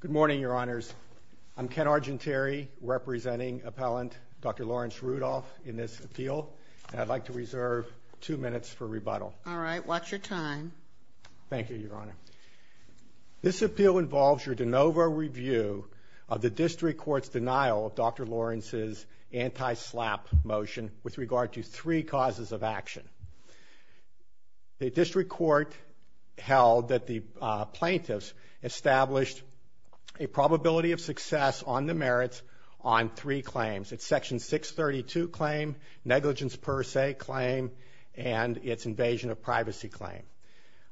Good morning, Your Honors. I'm Ken Argentieri, representing appellant Dr. Lawrence Rudolph in this appeal, and I'd like to reserve two minutes for rebuttal. All right. Watch your time. Thank you, Your Honor. This appeal involves your de novo review of the District Court's denial of Dr. Lawrence's anti-SLAPP motion with regard to three causes of action. The District Court held that the plaintiffs established a probability of success on the merits on three claims. It's Section 632 claim, negligence per se claim, and its invasion of privacy claim.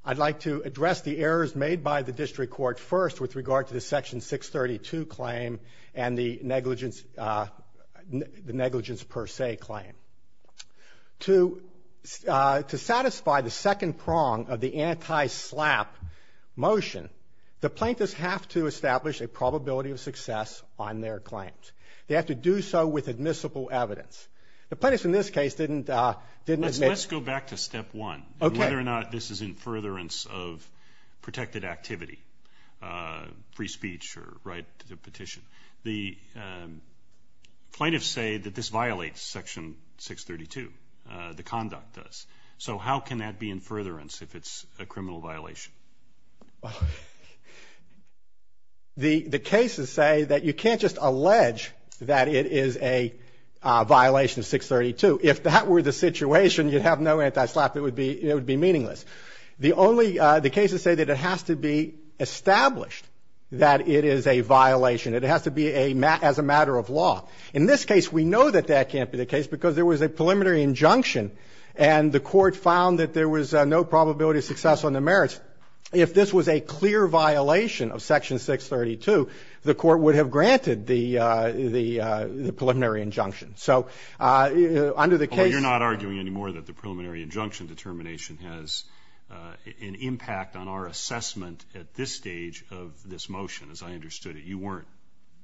I'd like to address the errors made by the District Court first with regard to the Section 632 claim and the negligence per se claim. To satisfy the second prong of the anti-SLAPP motion, the plaintiffs have to establish a probability of success on their claims. They have to do so with admissible evidence. The plaintiffs in this case didn't admit. Let's go back to step one. Okay. And whether or not this is in furtherance of protected activity, free speech or right to petition. The plaintiffs say that this violates Section 632, the conduct does. So how can that be in furtherance if it's a criminal violation? The cases say that you can't just allege that it is a violation of 632. If that were the situation, you'd have no anti-SLAPP. It would be meaningless. The cases say that it has to be established that it is a violation. It has to be as a matter of law. In this case, we know that that can't be the case because there was a preliminary injunction, and the court found that there was no probability of success on the merits. If this was a clear violation of Section 632, the court would have granted the preliminary injunction. So under the case ---- You're not arguing anymore that the preliminary injunction determination has an impact on our assessment at this stage of this motion, as I understood it. You weren't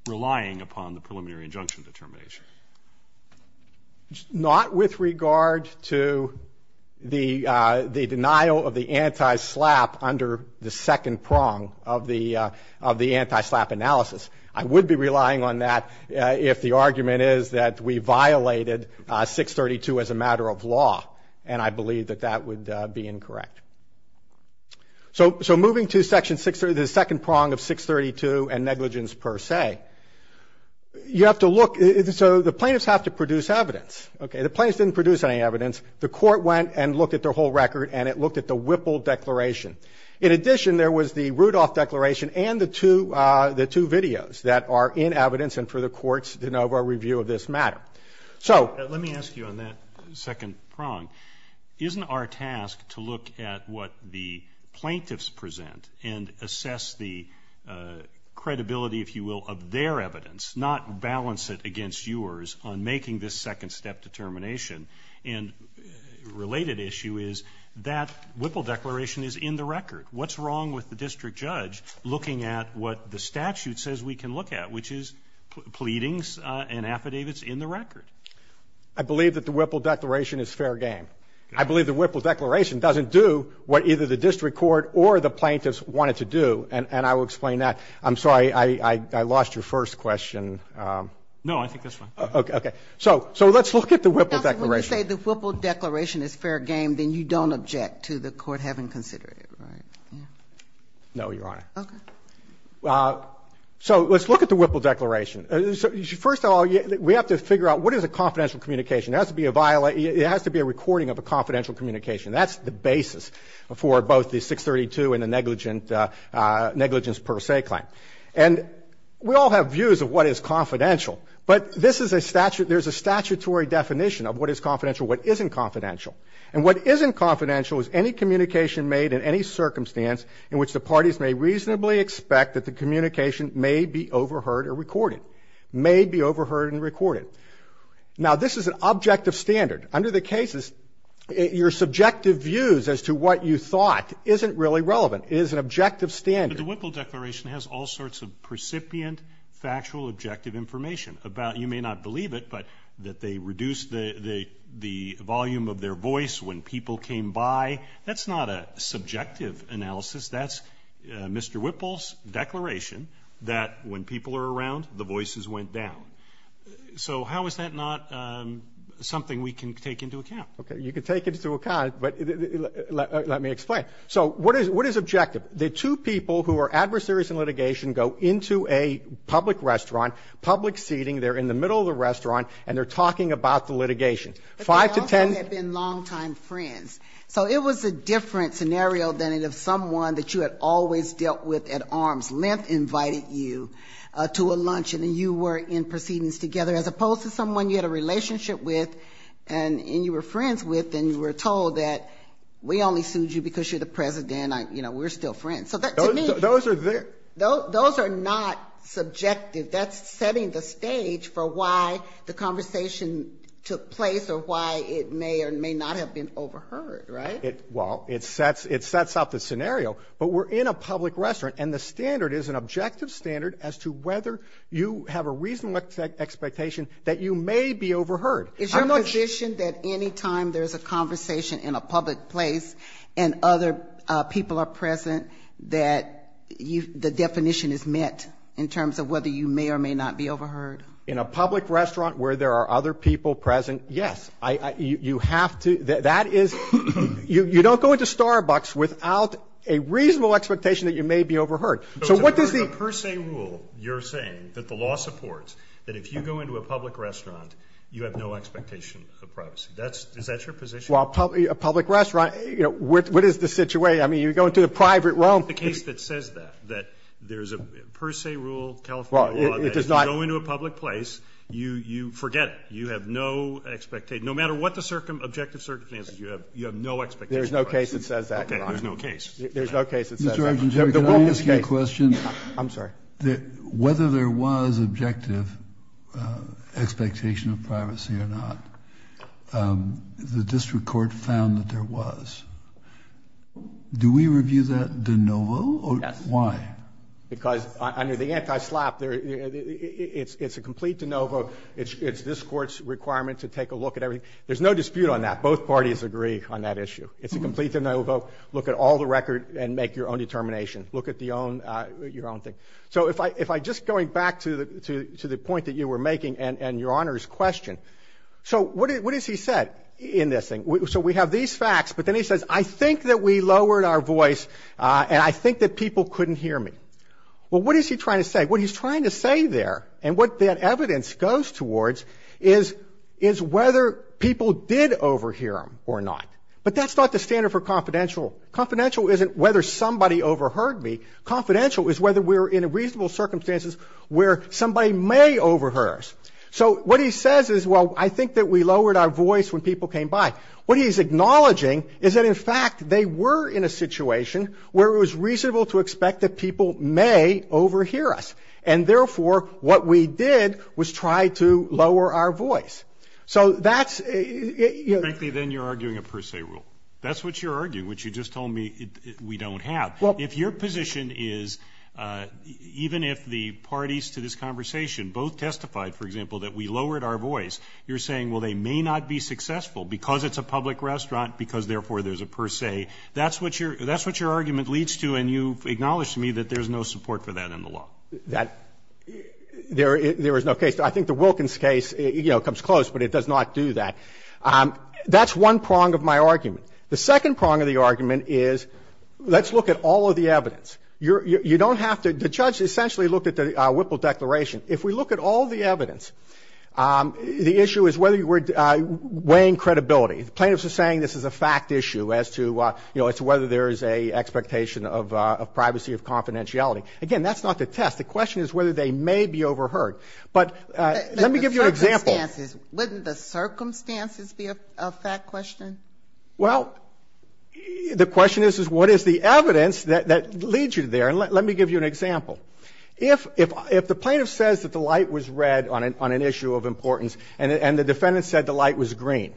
relying upon the preliminary injunction determination. Not with regard to the denial of the anti-SLAPP under the second prong of the anti-SLAPP analysis. I would be relying on that if the argument is that we violated 632 as a matter of law, and I believe that that would be incorrect. So moving to Section 632, the second prong of 632 and negligence per se, you have to look ---- So the plaintiffs have to produce evidence. Okay. The plaintiffs didn't produce any evidence. The court went and looked at their whole record, and it looked at the Whipple Declaration. In addition, there was the Rudolph Declaration and the two videos that are in evidence and for the court's de novo review of this matter. Let me ask you on that second prong. Isn't our task to look at what the plaintiffs present and assess the credibility, if you will, of their evidence, not balance it against yours on making this second step determination? And a related issue is that Whipple Declaration is in the record. What's wrong with the district judge looking at what the statute says we can look at, which is pleadings and affidavits in the record? I believe that the Whipple Declaration is fair game. I believe the Whipple Declaration doesn't do what either the district court or the plaintiffs wanted to do, and I will explain that. I'm sorry, I lost your first question. No, I think that's fine. So let's look at the Whipple Declaration. Counsel, when you say the Whipple Declaration is fair game, then you don't object to the court having considered it, right? No, Your Honor. Okay. So let's look at the Whipple Declaration. First of all, we have to figure out what is a confidential communication. It has to be a recording of a confidential communication. That's the basis for both the 632 and the negligence per se claim. And we all have views of what is confidential, but this is a statute. There's a statutory definition of what is confidential, what isn't confidential. And what isn't confidential is any communication made in any circumstance in which the parties may reasonably expect that the communication may be overheard or recorded, may be overheard and recorded. Now, this is an objective standard. Under the cases, your subjective views as to what you thought isn't really relevant. It is an objective standard. But the Whipple Declaration has all sorts of precipient factual objective information about you may not believe it, but that they reduced the volume of their voice when people came by. That's not a subjective analysis. That's Mr. Whipple's declaration that when people are around, the voices went down. So how is that not something we can take into account? Okay. You can take it into account, but let me explain. So what is objective? The two people who are adversaries in litigation go into a public restaurant, public seating. They're in the middle of the restaurant, and they're talking about the litigation. Five to ten ---- But they also had been longtime friends. So it was a different scenario than if someone that you had always dealt with at arms length invited you to a luncheon and you were in proceedings together, as opposed to someone you had a relationship with and you were friends with and you were told that we only sued you because you're the president, you know, we're still friends. So to me ---- Those are there. Those are not subjective. That's setting the stage for why the conversation took place or why it may or may not have been overheard, right? Well, it sets up the scenario. But we're in a public restaurant, and the standard is an objective standard as to whether you have a reasonable expectation that you may be overheard. Is your position that any time there's a conversation in a public place and other people are present that the definition is met in terms of whether you may or may not be overheard? In a public restaurant where there are other people present, yes. You have to ---- That is ---- You don't go into Starbucks without a reasonable expectation that you may be overheard. So what does the ---- So it's a per se rule you're saying that the law supports that if you go into a public restaurant, you have no expectation of privacy. Is that your position? Well, a public restaurant, you know, what is the situation? I mean, you go into a private room. It's the case that says that, that there's a per se rule, California law, that if you go into a public place, you forget it. You have no expectation. No matter what the objective circumstances, you have no expectation of privacy. There's no case that says that, Your Honor. Okay. There's no case. There's no case that says that. Mr. Argent, can I ask you a question? I'm sorry. Whether there was objective expectation of privacy or not, the district court found that there was. Do we review that de novo? Yes. Why? Because under the anti-SLAPP, it's a complete de novo. It's this Court's requirement to take a look at everything. There's no dispute on that. Both parties agree on that issue. It's a complete de novo. Look at all the record and make your own determination. Look at your own thing. So if I just going back to the point that you were making and Your Honor's question, so what has he said in this thing? So we have these facts, but then he says, I think that we lowered our voice and I think that people couldn't hear me. Well, what is he trying to say? What he's trying to say there and what that evidence goes towards is whether people did overhear him or not. But that's not the standard for confidential. Confidential isn't whether somebody overheard me. Confidential is whether we're in a reasonable circumstances where somebody may overhear us. So what he says is, well, I think that we lowered our voice when people came by. What he's acknowledging is that, in fact, they were in a situation where it was reasonable to expect that people may overhear us. And, therefore, what we did was try to lower our voice. So that's you know. Frankly, then you're arguing a per se rule. That's what you're arguing, which you just told me we don't have. If your position is, even if the parties to this conversation both testified, for example, that we lowered our voice, you're saying, well, they may not be successful because it's a public restaurant, because, therefore, there's a per se. That's what your argument leads to and you've acknowledged to me that there's no support for that in the law. There is no case. I think the Wilkins case, you know, comes close, but it does not do that. That's one prong of my argument. The second prong of the argument is let's look at all of the evidence. You don't have to. The judge essentially looked at the Whipple Declaration. If we look at all the evidence, the issue is whether we're weighing credibility. The plaintiffs are saying this is a fact issue as to, you know, as to whether there is an expectation of privacy, of confidentiality. Again, that's not the test. The question is whether they may be overheard. But let me give you an example. Sotomayor, wouldn't the circumstances be a fact question? Well, the question is, is what is the evidence that leads you there? And let me give you an example. If the plaintiff says that the light was red on an issue of importance and the defendant said the light was green,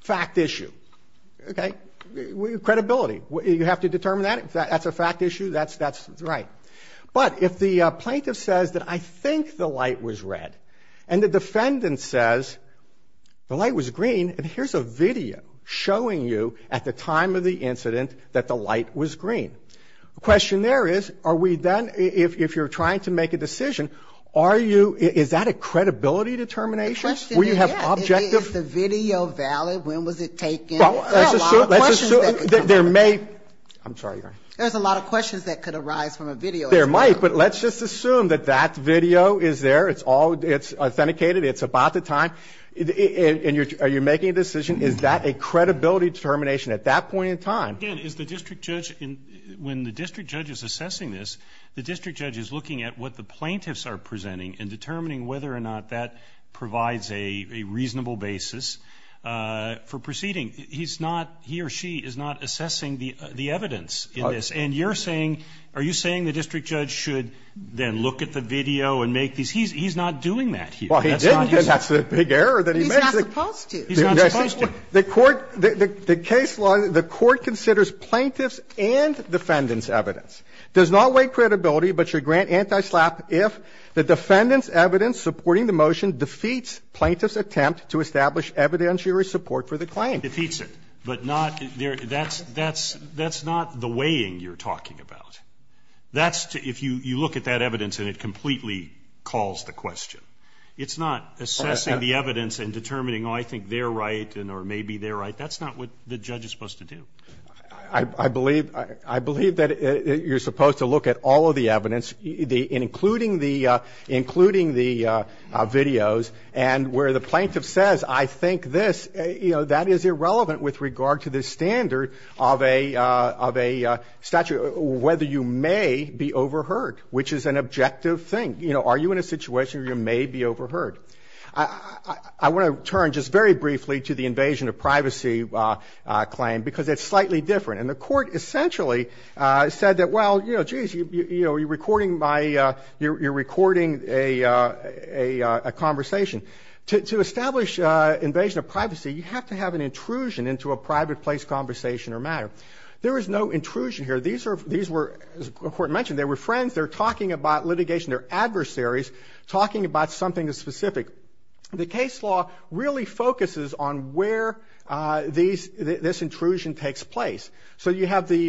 fact issue, okay, credibility. You have to determine that. If that's a fact issue, that's right. But if the plaintiff says that I think the light was red and the defendant says the light was green, there's a video showing you at the time of the incident that the light was green. The question there is, are we then, if you're trying to make a decision, are you – is that a credibility determination? The question is, yeah. Will you have objective – Is the video valid? There are a lot of questions that could come out of that. Well, let's assume there may – I'm sorry, Your Honor. There's a lot of questions that could arise from a video as well. There might. But let's just assume that that video is there. It's all – it's authenticated. It's about the time. And you're – are you making a decision? Is that a credibility determination at that point in time? Again, is the district judge – when the district judge is assessing this, the district judge is looking at what the plaintiffs are presenting and determining whether or not that provides a reasonable basis for proceeding. He's not – he or she is not assessing the evidence in this. And you're saying – are you saying the district judge should then look at the video and make these – he's not doing that here. Well, he didn't, and that's a big error that he made. He's not supposed to. He's not supposed to. The court – the case law – the court considers plaintiff's and defendant's evidence does not weigh credibility but should grant anti-SLAPP if the defendant's evidence supporting the motion defeats plaintiff's attempt to establish evidentiary support for the claim. It defeats it. But not – that's – that's not the weighing you're talking about. That's – if you look at that evidence and it completely calls the question. It's not assessing the evidence and determining, oh, I think they're right or maybe they're right. That's not what the judge is supposed to do. I believe – I believe that you're supposed to look at all of the evidence, including the – including the videos, and where the plaintiff says, I think this – you know, that is irrelevant with regard to the standard of a – of a statute whether you may be overheard, which is an objective thing. You know, are you in a situation where you may be overheard? I want to turn just very briefly to the invasion of privacy claim because it's slightly different. And the court essentially said that, well, you know, geez, you're recording by – you're recording a conversation. To establish invasion of privacy, you have to have an intrusion into a private place conversation or matter. There is no intrusion here. These are – these were – as the court mentioned, they were friends. They're talking about litigation. They're adversaries talking about something specific. The case law really focuses on where these – this intrusion takes place. So you have the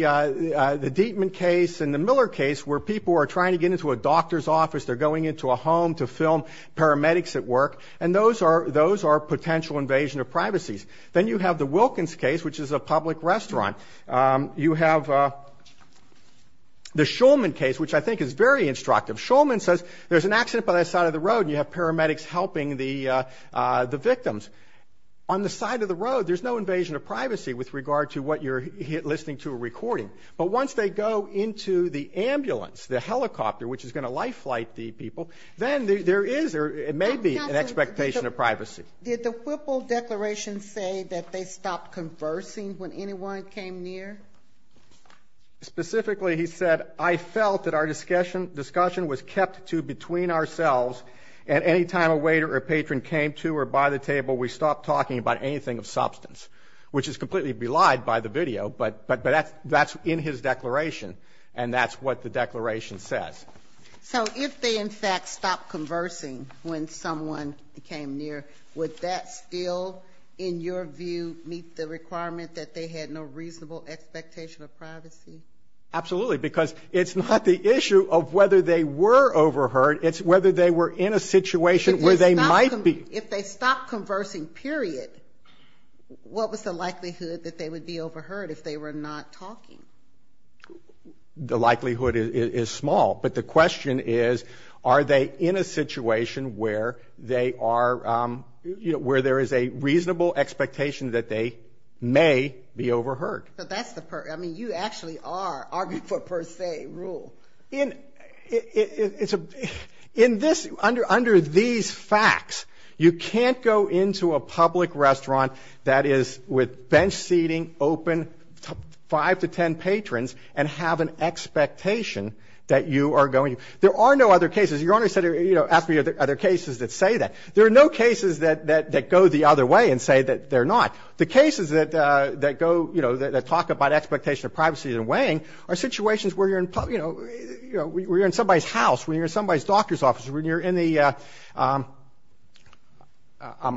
Dietman case and the Miller case where people are trying to get into a doctor's office. They're going into a home to film paramedics at work. And those are – those are potential invasion of privacies. Then you have the Wilkins case, which is a public restaurant. You have the Shulman case, which I think is very instructive. Shulman says there's an accident by the side of the road and you have paramedics helping the victims. On the side of the road, there's no invasion of privacy with regard to what you're listening to or recording. But once they go into the ambulance, the helicopter, which is going to life flight the people, then there is or it may be an expectation of privacy. Did the Whipple declaration say that they stopped conversing when anyone came near? Specifically, he said, I felt that our discussion was kept to between ourselves and any time a waiter or patron came to or by the table, we stopped talking about anything of substance, which is completely belied by the video. But that's in his declaration, and that's what the declaration says. So if they, in fact, stopped conversing when someone came near, would that still, in your view, meet the requirement that they had no reasonable expectation of privacy? Absolutely, because it's not the issue of whether they were overheard. It's whether they were in a situation where they might be. If they stopped conversing, period, what was the likelihood that they would be overheard if they were not talking? The likelihood is small. But the question is, are they in a situation where they are, you know, where there is a reasonable expectation that they may be overheard? But that's the, I mean, you actually are arguing for per se rule. In, it's a, in this, under these facts, you can't go into a public restaurant that is with bench seating, open, five to ten patrons, and have an expectation that you are going to. There are no other cases. Your Honor said, you know, ask me are there cases that say that. There are no cases that go the other way and say that they're not. The cases that go, you know, that talk about expectation of privacy and weighing are situations where you're in, you know, where you're in somebody's house, when you're in somebody's doctor's office, when you're in the, I'm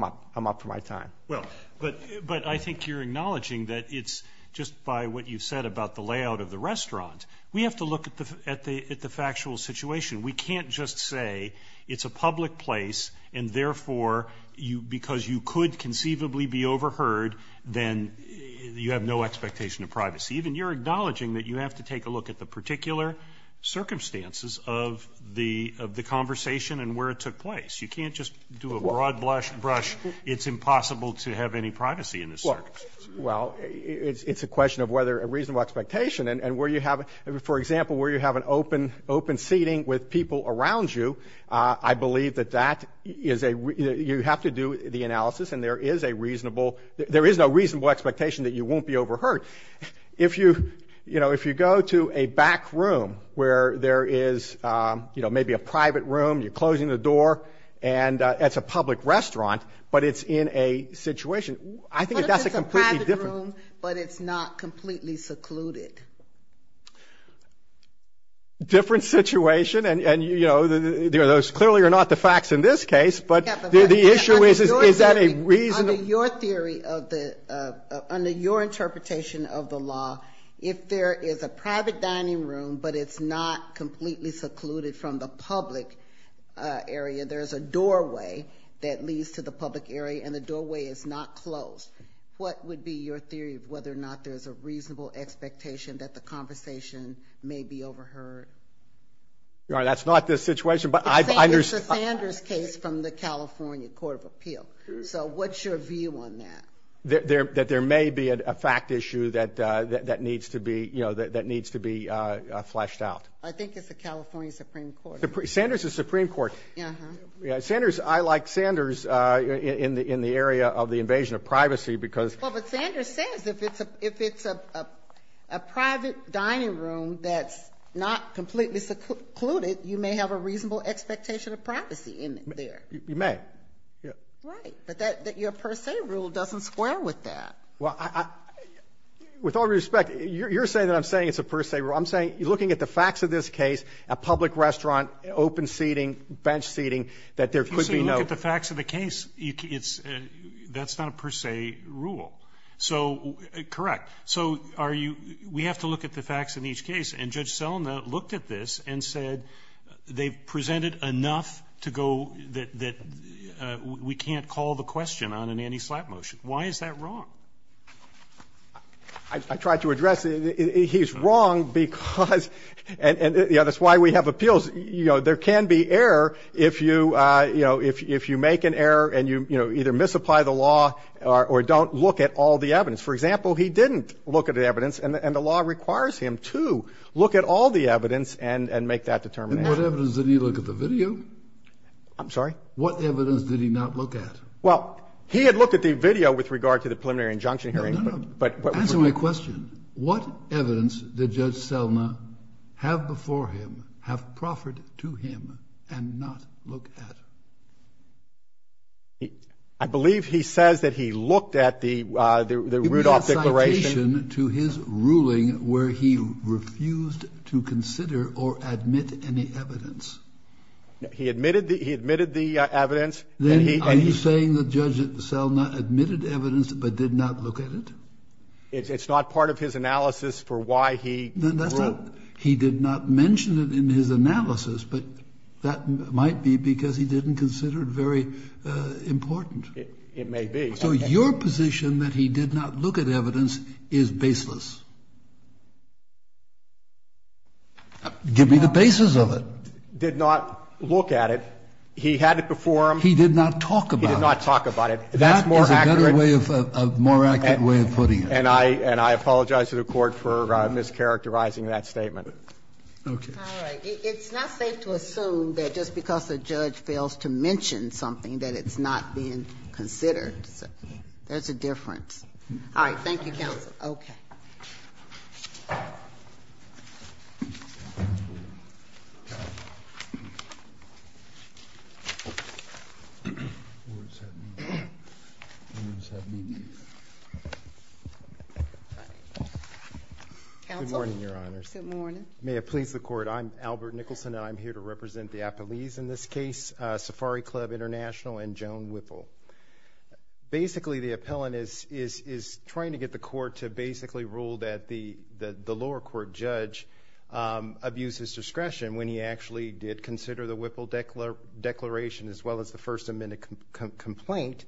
up. I'm up for my time. Well, but, but I think you're acknowledging that it's just by what you've said about the layout of the restaurant. We have to look at the, at the, at the factual situation. We can't just say it's a public place and therefore you, because you could conceivably be overheard, then you have no expectation of privacy. Even you're acknowledging that you have to take a look at the particular circumstances of the, of the conversation and where it took place. You can't just do a broad brush, it's impossible to have any privacy in this circumstance. Well, it's a question of whether a reasonable expectation and where you have, for example, where you have an open, open seating with people around you, I believe that that is a, you have to do the analysis and there is a reasonable, there is no reasonable expectation that you won't be overheard. If you, you know, if you go to a back room where there is, you know, maybe a private room, you're closing the door and it's a public restaurant, but it's in a situation, I think that's a completely different. What if it's a private room but it's not completely secluded? Different situation and, you know, those clearly are not the facts in this case, but the issue is, is that a reasonable. Under your theory of the, under your interpretation of the law, if there is a private dining room but it's not completely secluded from the public area, there is a doorway that leads to the public area and the doorway is not closed. What would be your theory of whether or not there is a reasonable expectation that the conversation may be overheard? That's not the situation, but I understand. It's a Sanders case from the California Court of Appeal. So what's your view on that? That there may be a fact issue that needs to be, you know, that needs to be fleshed out. I think it's the California Supreme Court. Sanders' Supreme Court. Uh-huh. Sanders, I like Sanders in the area of the invasion of privacy because. Well, but Sanders says if it's a private dining room that's not completely secluded, you may have a reasonable expectation of privacy in there. You may. Right. But that your per se rule doesn't square with that. Well, I, with all due respect, you're saying that I'm saying it's a per se rule. I'm saying looking at the facts of this case, a public restaurant, open seating, bench seating, that there could be no. You say look at the facts of the case. It's, that's not a per se rule. So, correct. So are you, we have to look at the facts in each case. And Judge Selina looked at this and said they've presented enough to go that we can't call the question on an anti-slap motion. Why is that wrong? I tried to address it. He's wrong because, and, you know, that's why we have appeals. You know, there can be error if you, you know, if you make an error and you, you know, either misapply the law or don't look at all the evidence. For example, he didn't look at the evidence, and the law requires him to look at all the evidence and make that determination. And what evidence did he look at the video? I'm sorry? What evidence did he not look at? Well, he had looked at the video with regard to the preliminary injunction hearing. No, no. Answer my question. What evidence did Judge Selina have before him, have proffered to him, and not look at? I believe he says that he looked at the Rudolph Declaration. He made a citation to his ruling where he refused to consider or admit any evidence. He admitted the evidence. Then are you saying that Judge Selina admitted evidence but did not look at it? It's not part of his analysis for why he wrote. He did not mention it in his analysis, but that might be because he didn't consider it very important. It may be. So your position that he did not look at evidence is baseless. Give me the basis of it. He did not look at it. He had it before him. He did not talk about it. He did not talk about it. That's more accurate. That is a better way of, a more accurate way of putting it. And I apologize to the Court for mischaracterizing that statement. Okay. All right. It's not safe to assume that just because a judge fails to mention something that it's not being considered. There's a difference. All right. Thank you, counsel. Okay. Good morning, Your Honors. Good morning. May it please the Court, I'm Albert Nicholson, and I'm here to represent the appellees in this case, Safari Club International and Joan Whipple. Basically, the appellant is trying to get the Court to basically rule that the lower court judge abused his discretion when he actually did consider the Whipple declaration as well as the First Amendment complaint,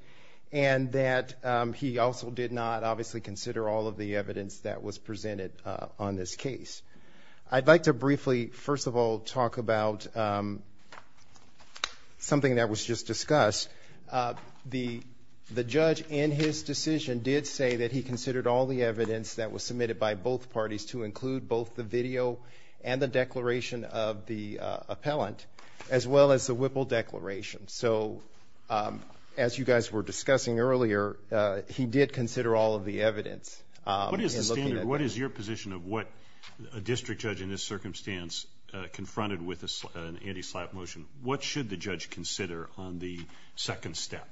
and that he also did not, obviously, consider all of the evidence that was presented on this case. I'd like to briefly, first of all, talk about something that was just discussed. The judge, in his decision, did say that he considered all the evidence that was submitted by both parties to include both the video and the declaration of the appellant, as well as the Whipple declaration. So, as you guys were discussing earlier, he did consider all of the evidence. What is your position of what a district judge in this circumstance confronted with an anti-slap motion? What should the judge consider on the second step?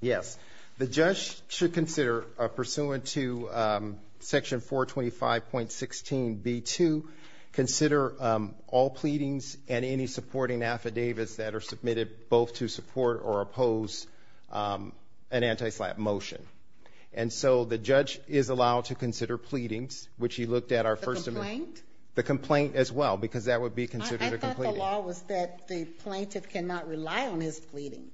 Yes. The judge should consider, pursuant to Section 425.16b2, consider all pleadings and any supporting affidavits that are submitted both to support or oppose an anti-slap motion. And so the judge is allowed to consider pleadings, which he looked at our First Amendment. The complaint? The complaint as well, because that would be considered a complaint. I thought the law was that the plaintiff cannot rely on his pleading.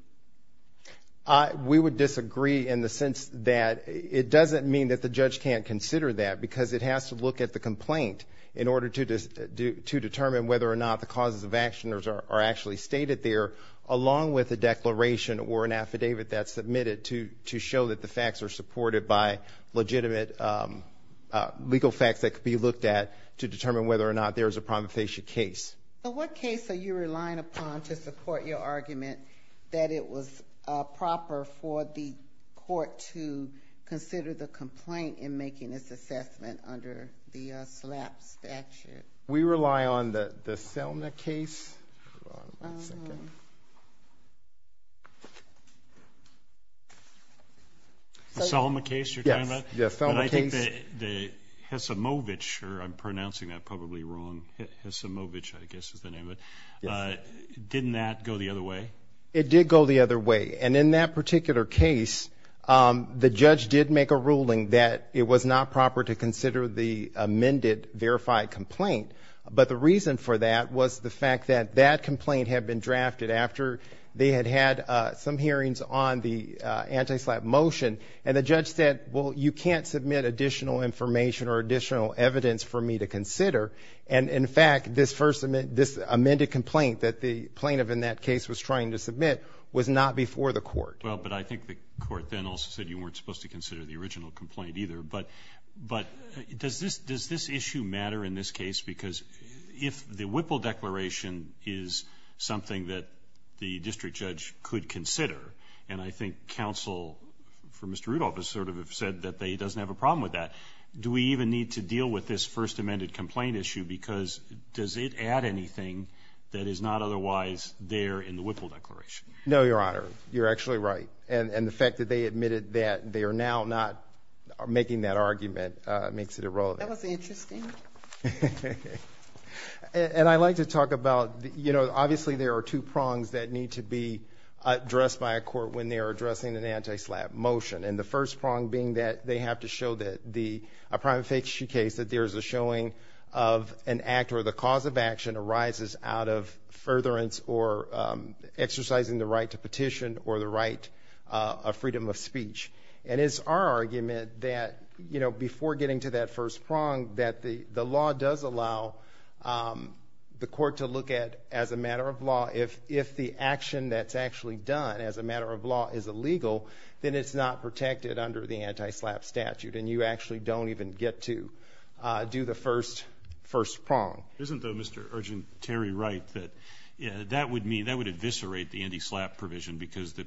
We would disagree in the sense that it doesn't mean that the judge can't consider that because it has to look at the complaint in order to determine whether or not the causes of action are actually stated there, along with a declaration or an affidavit that's submitted to show that the facts are supported by legitimate legal facts that could be looked at to determine whether or not there is a promulgation case. But what case are you relying upon to support your argument that it was proper for the court to consider the complaint in making this assessment under the SLAP statute? We rely on the Selma case. The Selma case you're talking about? Yes, the Selma case. The Selma case. The Hessemovich, or I'm pronouncing that probably wrong, Hessemovich I guess is the name of it. Yes. Didn't that go the other way? It did go the other way, and in that particular case, the judge did make a ruling that it was not proper to consider the amended verified complaint. But the reason for that was the fact that that complaint had been drafted after they had had some hearings on the anti-SLAP motion, and the judge said, well, you can't submit additional information or additional evidence for me to consider. And, in fact, this amended complaint that the plaintiff in that case was trying to submit was not before the court. Well, but I think the court then also said you weren't supposed to consider the original complaint either. But does this issue matter in this case? Because if the Whipple Declaration is something that the district judge could consider, and I think counsel for Mr. Rudolph has sort of said that he doesn't have a problem with that, do we even need to deal with this first amended complaint issue? Because does it add anything that is not otherwise there in the Whipple Declaration? No, Your Honor. You're actually right. And the fact that they admitted that they are now not making that argument makes it irrelevant. That was interesting. And I'd like to talk about, you know, obviously there are two prongs that need to be addressed by a court when they are addressing an anti-SLAP motion, and the first prong being that they have to show that a private fake issue case, that there is a showing of an act or the cause of action arises out of furtherance or exercising the right to petition or the right of freedom of speech. And it's our argument that, you know, before getting to that first prong, that the law does allow the court to look at, as a matter of law, if the action that's actually done as a matter of law is illegal, then it's not protected under the anti-SLAP statute, and you actually don't even get to do the first prong. Isn't, though, Mr. Urgent-Terry right that that would mean, that would eviscerate the anti-SLAP provision because the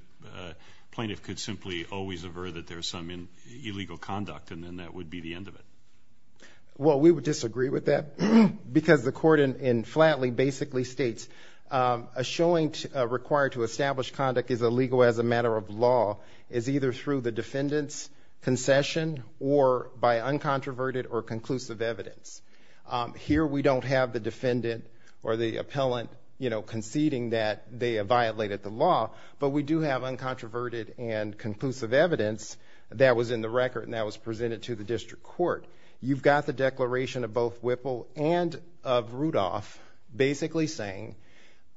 plaintiff could simply always aver that there's some illegal conduct and then that would be the end of it? Well, we would disagree with that because the court in Flatley basically states, a showing required to establish conduct is illegal as a matter of law is either through the defendant's concession or by uncontroverted or conclusive evidence. Here we don't have the defendant or the appellant, you know, conceding that they have violated the law, but we do have uncontroverted and conclusive evidence that was in the record and that was presented to the district court. You've got the declaration of both Whipple and of Rudolph basically saying,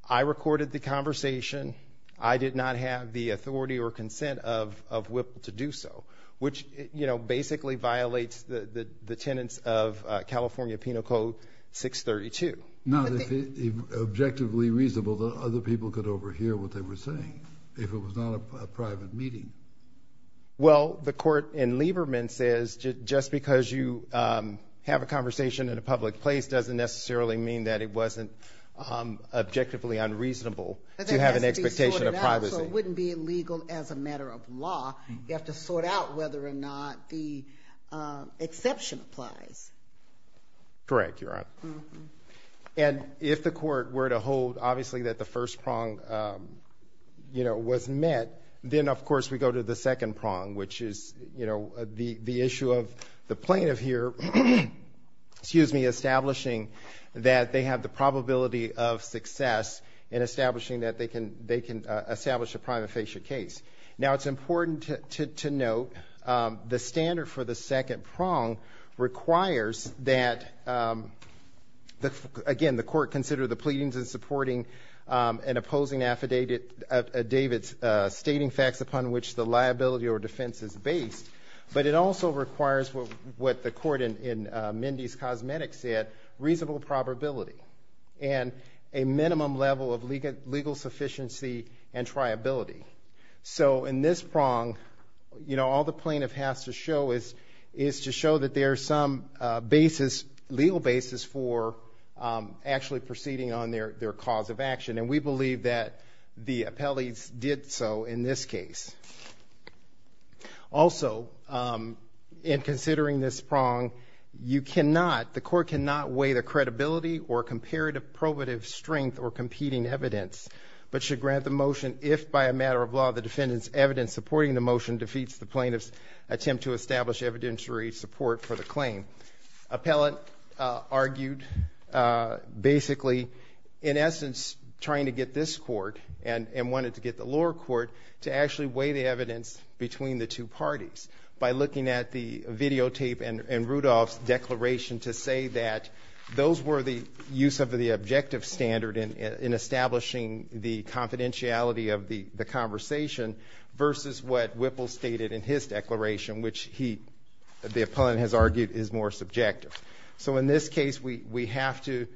I recorded the conversation. I did not have the authority or consent of Whipple to do so, which, you know, basically violates the tenets of California Penal Code 632. Objectively reasonable that other people could overhear what they were saying if it was not a private meeting. Well, the court in Lieberman says just because you have a conversation in a public place doesn't necessarily mean that it wasn't objectively unreasonable to have an expectation of privacy. So it wouldn't be illegal as a matter of law. You have to sort out whether or not the exception applies. Correct, Your Honor. And if the court were to hold, obviously, that the first prong, you know, was met, then, of course, we go to the second prong, which is, you know, the issue of the plaintiff here, excuse me, establishing that they have the probability of success in establishing that they can establish a prima facie case. Now, it's important to note the standard for the second prong requires that, again, the court consider the pleadings in supporting and opposing affidavits stating facts upon which the liability or defense is based, but it also requires what the court in Mindy's Cosmetics said, reasonable probability and a minimum level of legal sufficiency and triability. So in this prong, you know, all the plaintiff has to show is to show that there's some basis, legal basis for actually proceeding on their cause of action, and we believe that the appellees did so in this case. Also, in considering this prong, you cannot, the court cannot weigh the credibility or comparative strength or competing evidence, but should grant the motion if, by a matter of law, the defendant's evidence supporting the motion defeats the plaintiff's attempt to establish evidentiary support for the claim. Appellant argued basically, in essence, trying to get this court and wanted to get the lower court to actually weigh the evidence between the two parties by looking at the videotape and Rudolph's declaration to say that those were the use of the objective standard in establishing the confidentiality of the conversation versus what Whipple stated in his declaration, which he, the appellant has argued, is more subjective. So in this case, we have to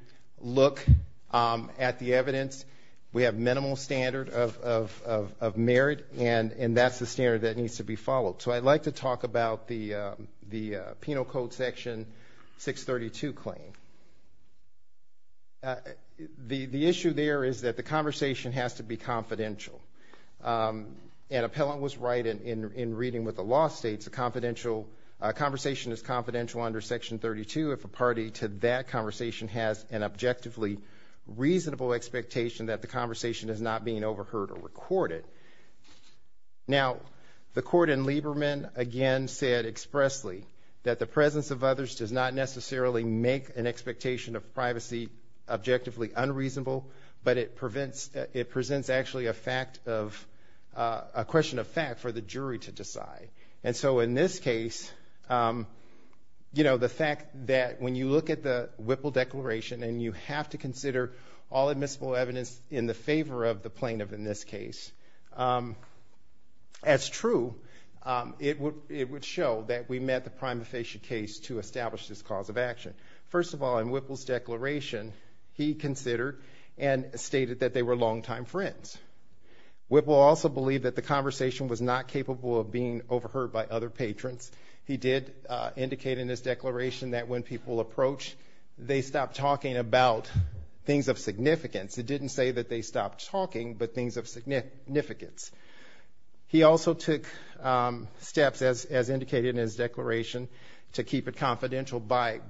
look at the evidence. We have minimal standard of merit, and that's the standard that needs to be followed. So I'd like to talk about the Penal Code Section 632 claim. The issue there is that the conversation has to be confidential, and appellant was right in reading what the law states. A conversation is confidential under Section 32 if a party to that conversation has an objectively reasonable expectation that the conversation is not being overheard or recorded. Now, the court in Lieberman, again, said expressly that the presence of others does not necessarily make an expectation of privacy objectively unreasonable, but it presents actually a question of fact for the jury to decide. And so in this case, you know, the fact that when you look at the Whipple declaration and you have to consider all admissible evidence in the favor of the plaintiff in this case, as true, it would show that we met the prima facie case to establish this cause of action. First of all, in Whipple's declaration, he considered and stated that they were longtime friends. Whipple also believed that the conversation was not capable of being overheard by other patrons. He did indicate in his declaration that when people approach, they stop talking about things of significance. It didn't say that they stopped talking, but things of significance. He also took steps, as indicated in his declaration, to keep it confidential by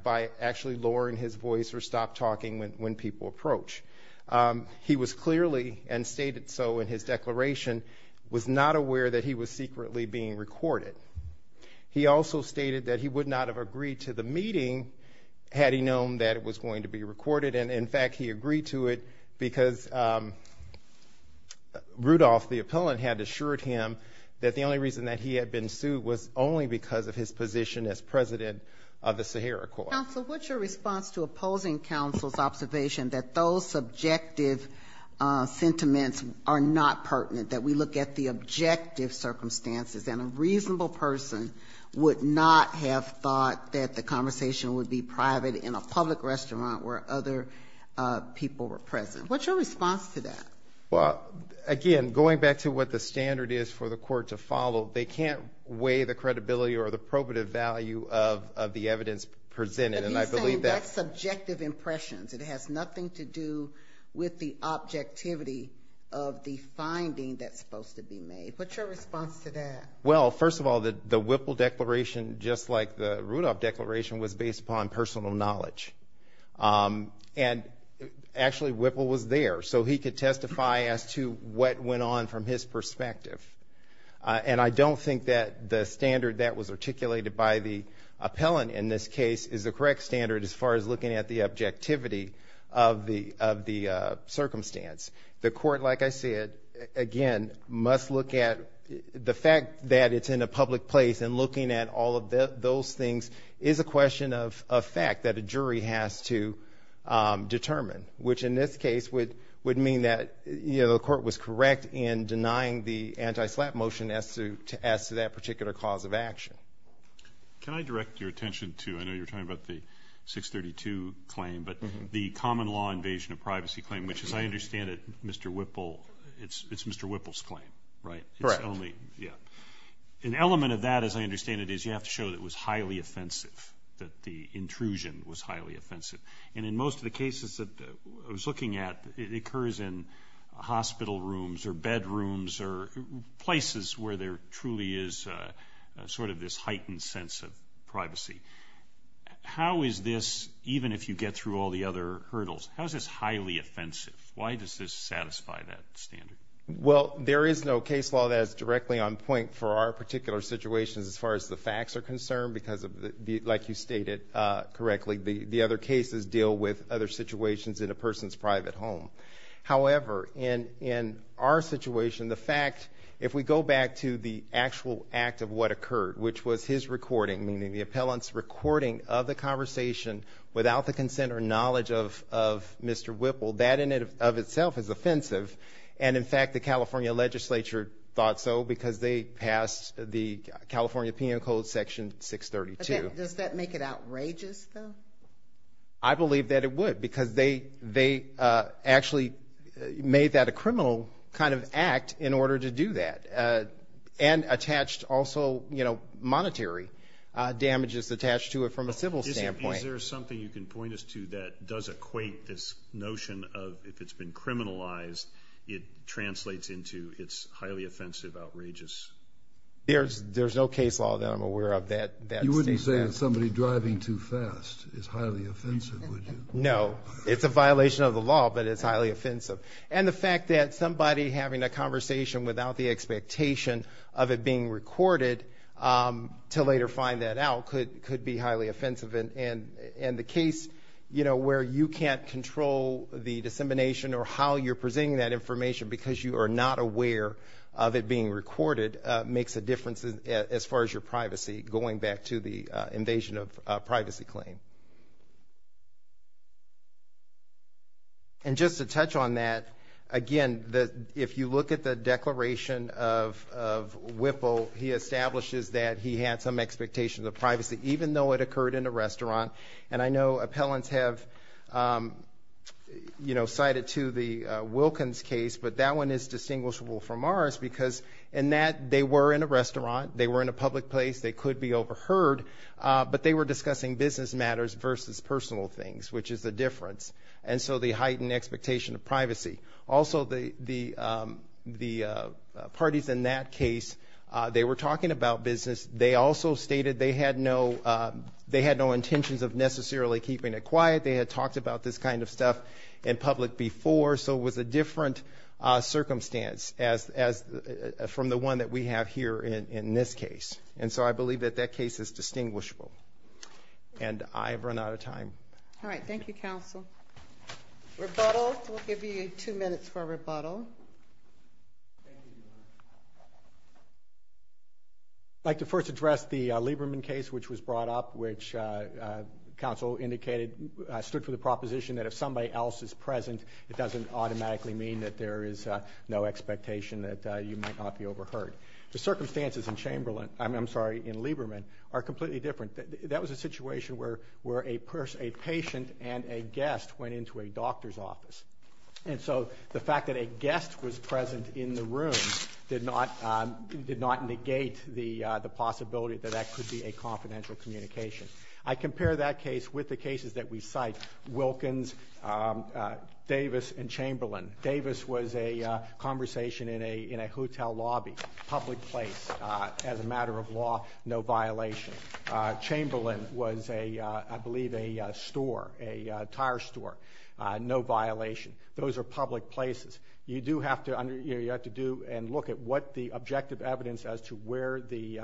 actually lowering his voice or stop talking when people approach. He was clearly, and stated so in his declaration, was not aware that he was secretly being recorded. He also stated that he would not have agreed to the meeting had he known that it was going to be recorded. And, in fact, he agreed to it because Rudolph, the appellant, had assured him that the only reason that he had been sued was only because of his position as president of the Sahara Court. Counsel, what's your response to opposing counsel's observation that those subjective sentiments are not pertinent, that we look at the objective circumstances and a reasonable person would not have thought that the conversation would be private in a public restaurant where other people were present? What's your response to that? Well, again, going back to what the standard is for the court to follow, they can't weigh the credibility or the probative value of the evidence presented. But he's saying that's subjective impressions. It has nothing to do with the objectivity of the finding that's supposed to be made. What's your response to that? Well, first of all, the Whipple Declaration, just like the Rudolph Declaration, was based upon personal knowledge. And, actually, Whipple was there, so he could testify as to what went on from his perspective. And I don't think that the standard that was articulated by the appellant in this case is the correct standard as far as looking at the objectivity of the circumstance. The court, like I said, again, must look at the fact that it's in a public place and looking at all of those things is a question of fact that a jury has to determine, which in this case would mean that the court was correct in denying the anti-SLAPP motion as to that particular cause of action. Can I direct your attention to, I know you're talking about the 632 claim, but the common law invasion of privacy claim, which, as I understand it, Mr. Whipple, it's Mr. Whipple's claim, right? Correct. Yeah. An element of that, as I understand it, is you have to show that it was highly offensive, that the intrusion was highly offensive. And in most of the cases that I was looking at, it occurs in hospital rooms or bedrooms or places where there truly is sort of this heightened sense of privacy. How is this, even if you get through all the other hurdles, how is this highly offensive? Why does this satisfy that standard? Well, there is no case law that is directly on point for our particular situations as far as the facts are concerned because, like you stated correctly, the other cases deal with other situations in a person's private home. However, in our situation, the fact, if we go back to the actual act of what occurred, which was his recording, meaning the appellant's recording of the conversation without the consent or knowledge of Mr. Whipple, that in and of itself is offensive. And, in fact, the California legislature thought so because they passed the California Penal Code Section 632. Does that make it outrageous, though? I believe that it would because they actually made that a criminal kind of act in order to do that and attached also monetary damages attached to it from a civil standpoint. Is there something you can point us to that does equate this notion of, if it's been criminalized, it translates into it's highly offensive, outrageous? There's no case law that I'm aware of that states that. You wouldn't say that somebody driving too fast is highly offensive, would you? No. It's a violation of the law, but it's highly offensive. And the fact that somebody having a conversation without the expectation of it being recorded to later find that out could be highly offensive. And the case where you can't control the dissemination or how you're presenting that information because you are not aware of it being recorded makes a difference as far as your privacy going back to the invasion of privacy claim. And just to touch on that, again, if you look at the declaration of Whipple, he establishes that he had some expectations of privacy, even though it occurred in a restaurant. And I know appellants have, you know, cited to the Wilkins case, but that one is distinguishable from ours because in that they were in a restaurant, they were in a public place, they could be overheard, but they were discussing business matters versus personal things, which is the difference. And so they heightened the expectation of privacy. Also, the parties in that case, they were talking about business. They also stated they had no intentions of necessarily keeping it quiet. They had talked about this kind of stuff in public before, so it was a different circumstance from the one that we have here in this case. And so I believe that that case is distinguishable. And I've run out of time. All right. Thank you, counsel. Rebuttal. We'll give you two minutes for a rebuttal. Thank you, Your Honor. I'd like to first address the Lieberman case, which was brought up, which counsel indicated stood for the proposition that if somebody else is present, it doesn't automatically mean that there is no expectation that you might not be overheard. The circumstances in Lieberman are completely different. That was a situation where a patient and a guest went into a doctor's office. And so the fact that a guest was present in the room did not negate the possibility that that could be a confidential communication. I compare that case with the cases that we cite, Wilkins, Davis, and Chamberlain. Davis was a conversation in a hotel lobby, public place, as a matter of law, no violation. Chamberlain was, I believe, a store, a tire store, no violation. Those are public places. You do have to do and look at what the objective evidence as to where the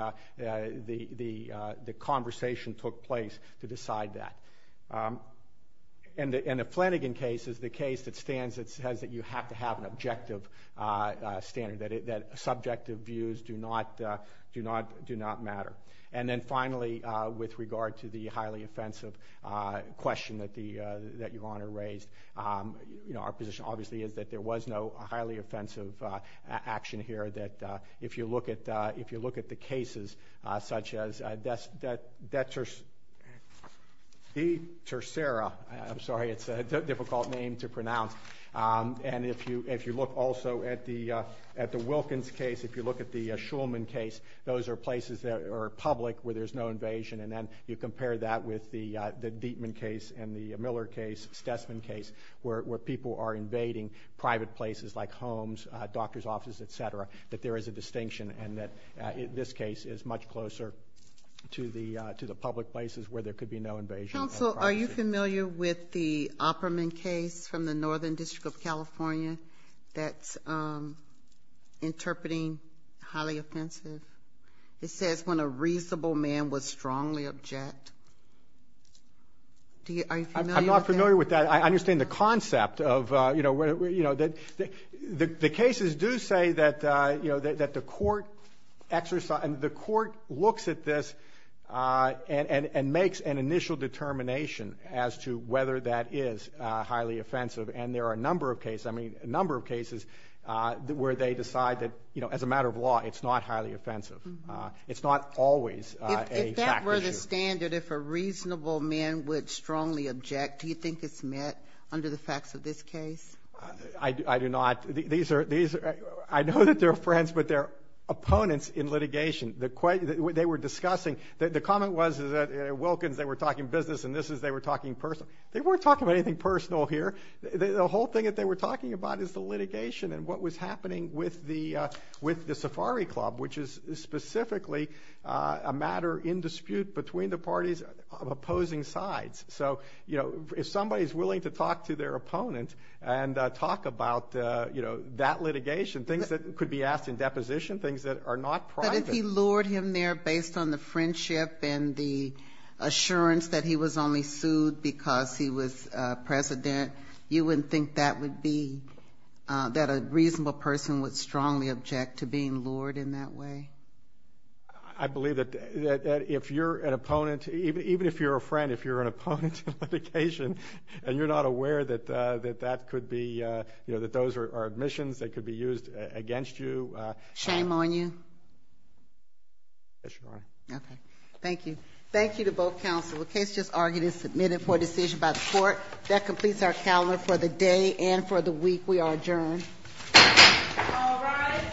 conversation took place to decide that. And the Flanagan case is the case that stands that says that you have to have an objective standard, that subjective views do not matter. And then finally, with regard to the highly offensive question that Your Honor raised, our position obviously is that there was no highly offensive action here. If you look at the cases such as De Tercera, I'm sorry, it's a difficult name to pronounce. And if you look also at the Wilkins case, if you look at the Shulman case, those are places that are public where there's no invasion. And then you compare that with the Dietman case and the Miller case, Stessman case, where people are invading private places like homes, doctor's offices, et cetera, that there is a distinction and that this case is much closer to the public places where there could be no invasion. Counsel, are you familiar with the Opperman case from the Northern District of California that's interpreting highly offensive? It says when a reasonable man would strongly object. Are you familiar with that? I'm not familiar with that. I understand the concept of, you know, the cases do say that, you know, that the court exercise and the court looks at this and makes an initial determination as to whether that is highly offensive. And there are a number of cases, I mean, a number of cases where they decide that, you know, as a matter of law, it's not highly offensive. It's not always a fact issue. I understand that if a reasonable man would strongly object, do you think it's met under the facts of this case? I do not. These are – I know that they're friends, but they're opponents in litigation. They were discussing – the comment was that at Wilkins they were talking business, and this is they were talking personal. They weren't talking about anything personal here. The whole thing that they were talking about is the litigation and what was happening with the Safari Club, which is specifically a matter in dispute between the parties of opposing sides. So, you know, if somebody is willing to talk to their opponent and talk about, you know, that litigation, things that could be asked in deposition, things that are not private. But if he lured him there based on the friendship and the assurance that he was only sued because he was president, you wouldn't think that would be – that a reasonable person would strongly object to being lured in that way? I believe that if you're an opponent – even if you're a friend, if you're an opponent in litigation and you're not aware that that could be – you know, that those are admissions that could be used against you. Shame on you? Yes, Your Honor. Okay. Thank you. Thank you to both counsel. The case just argued is submitted for decision by the court. That completes our calendar for the day and for the week. We are adjourned. All rise.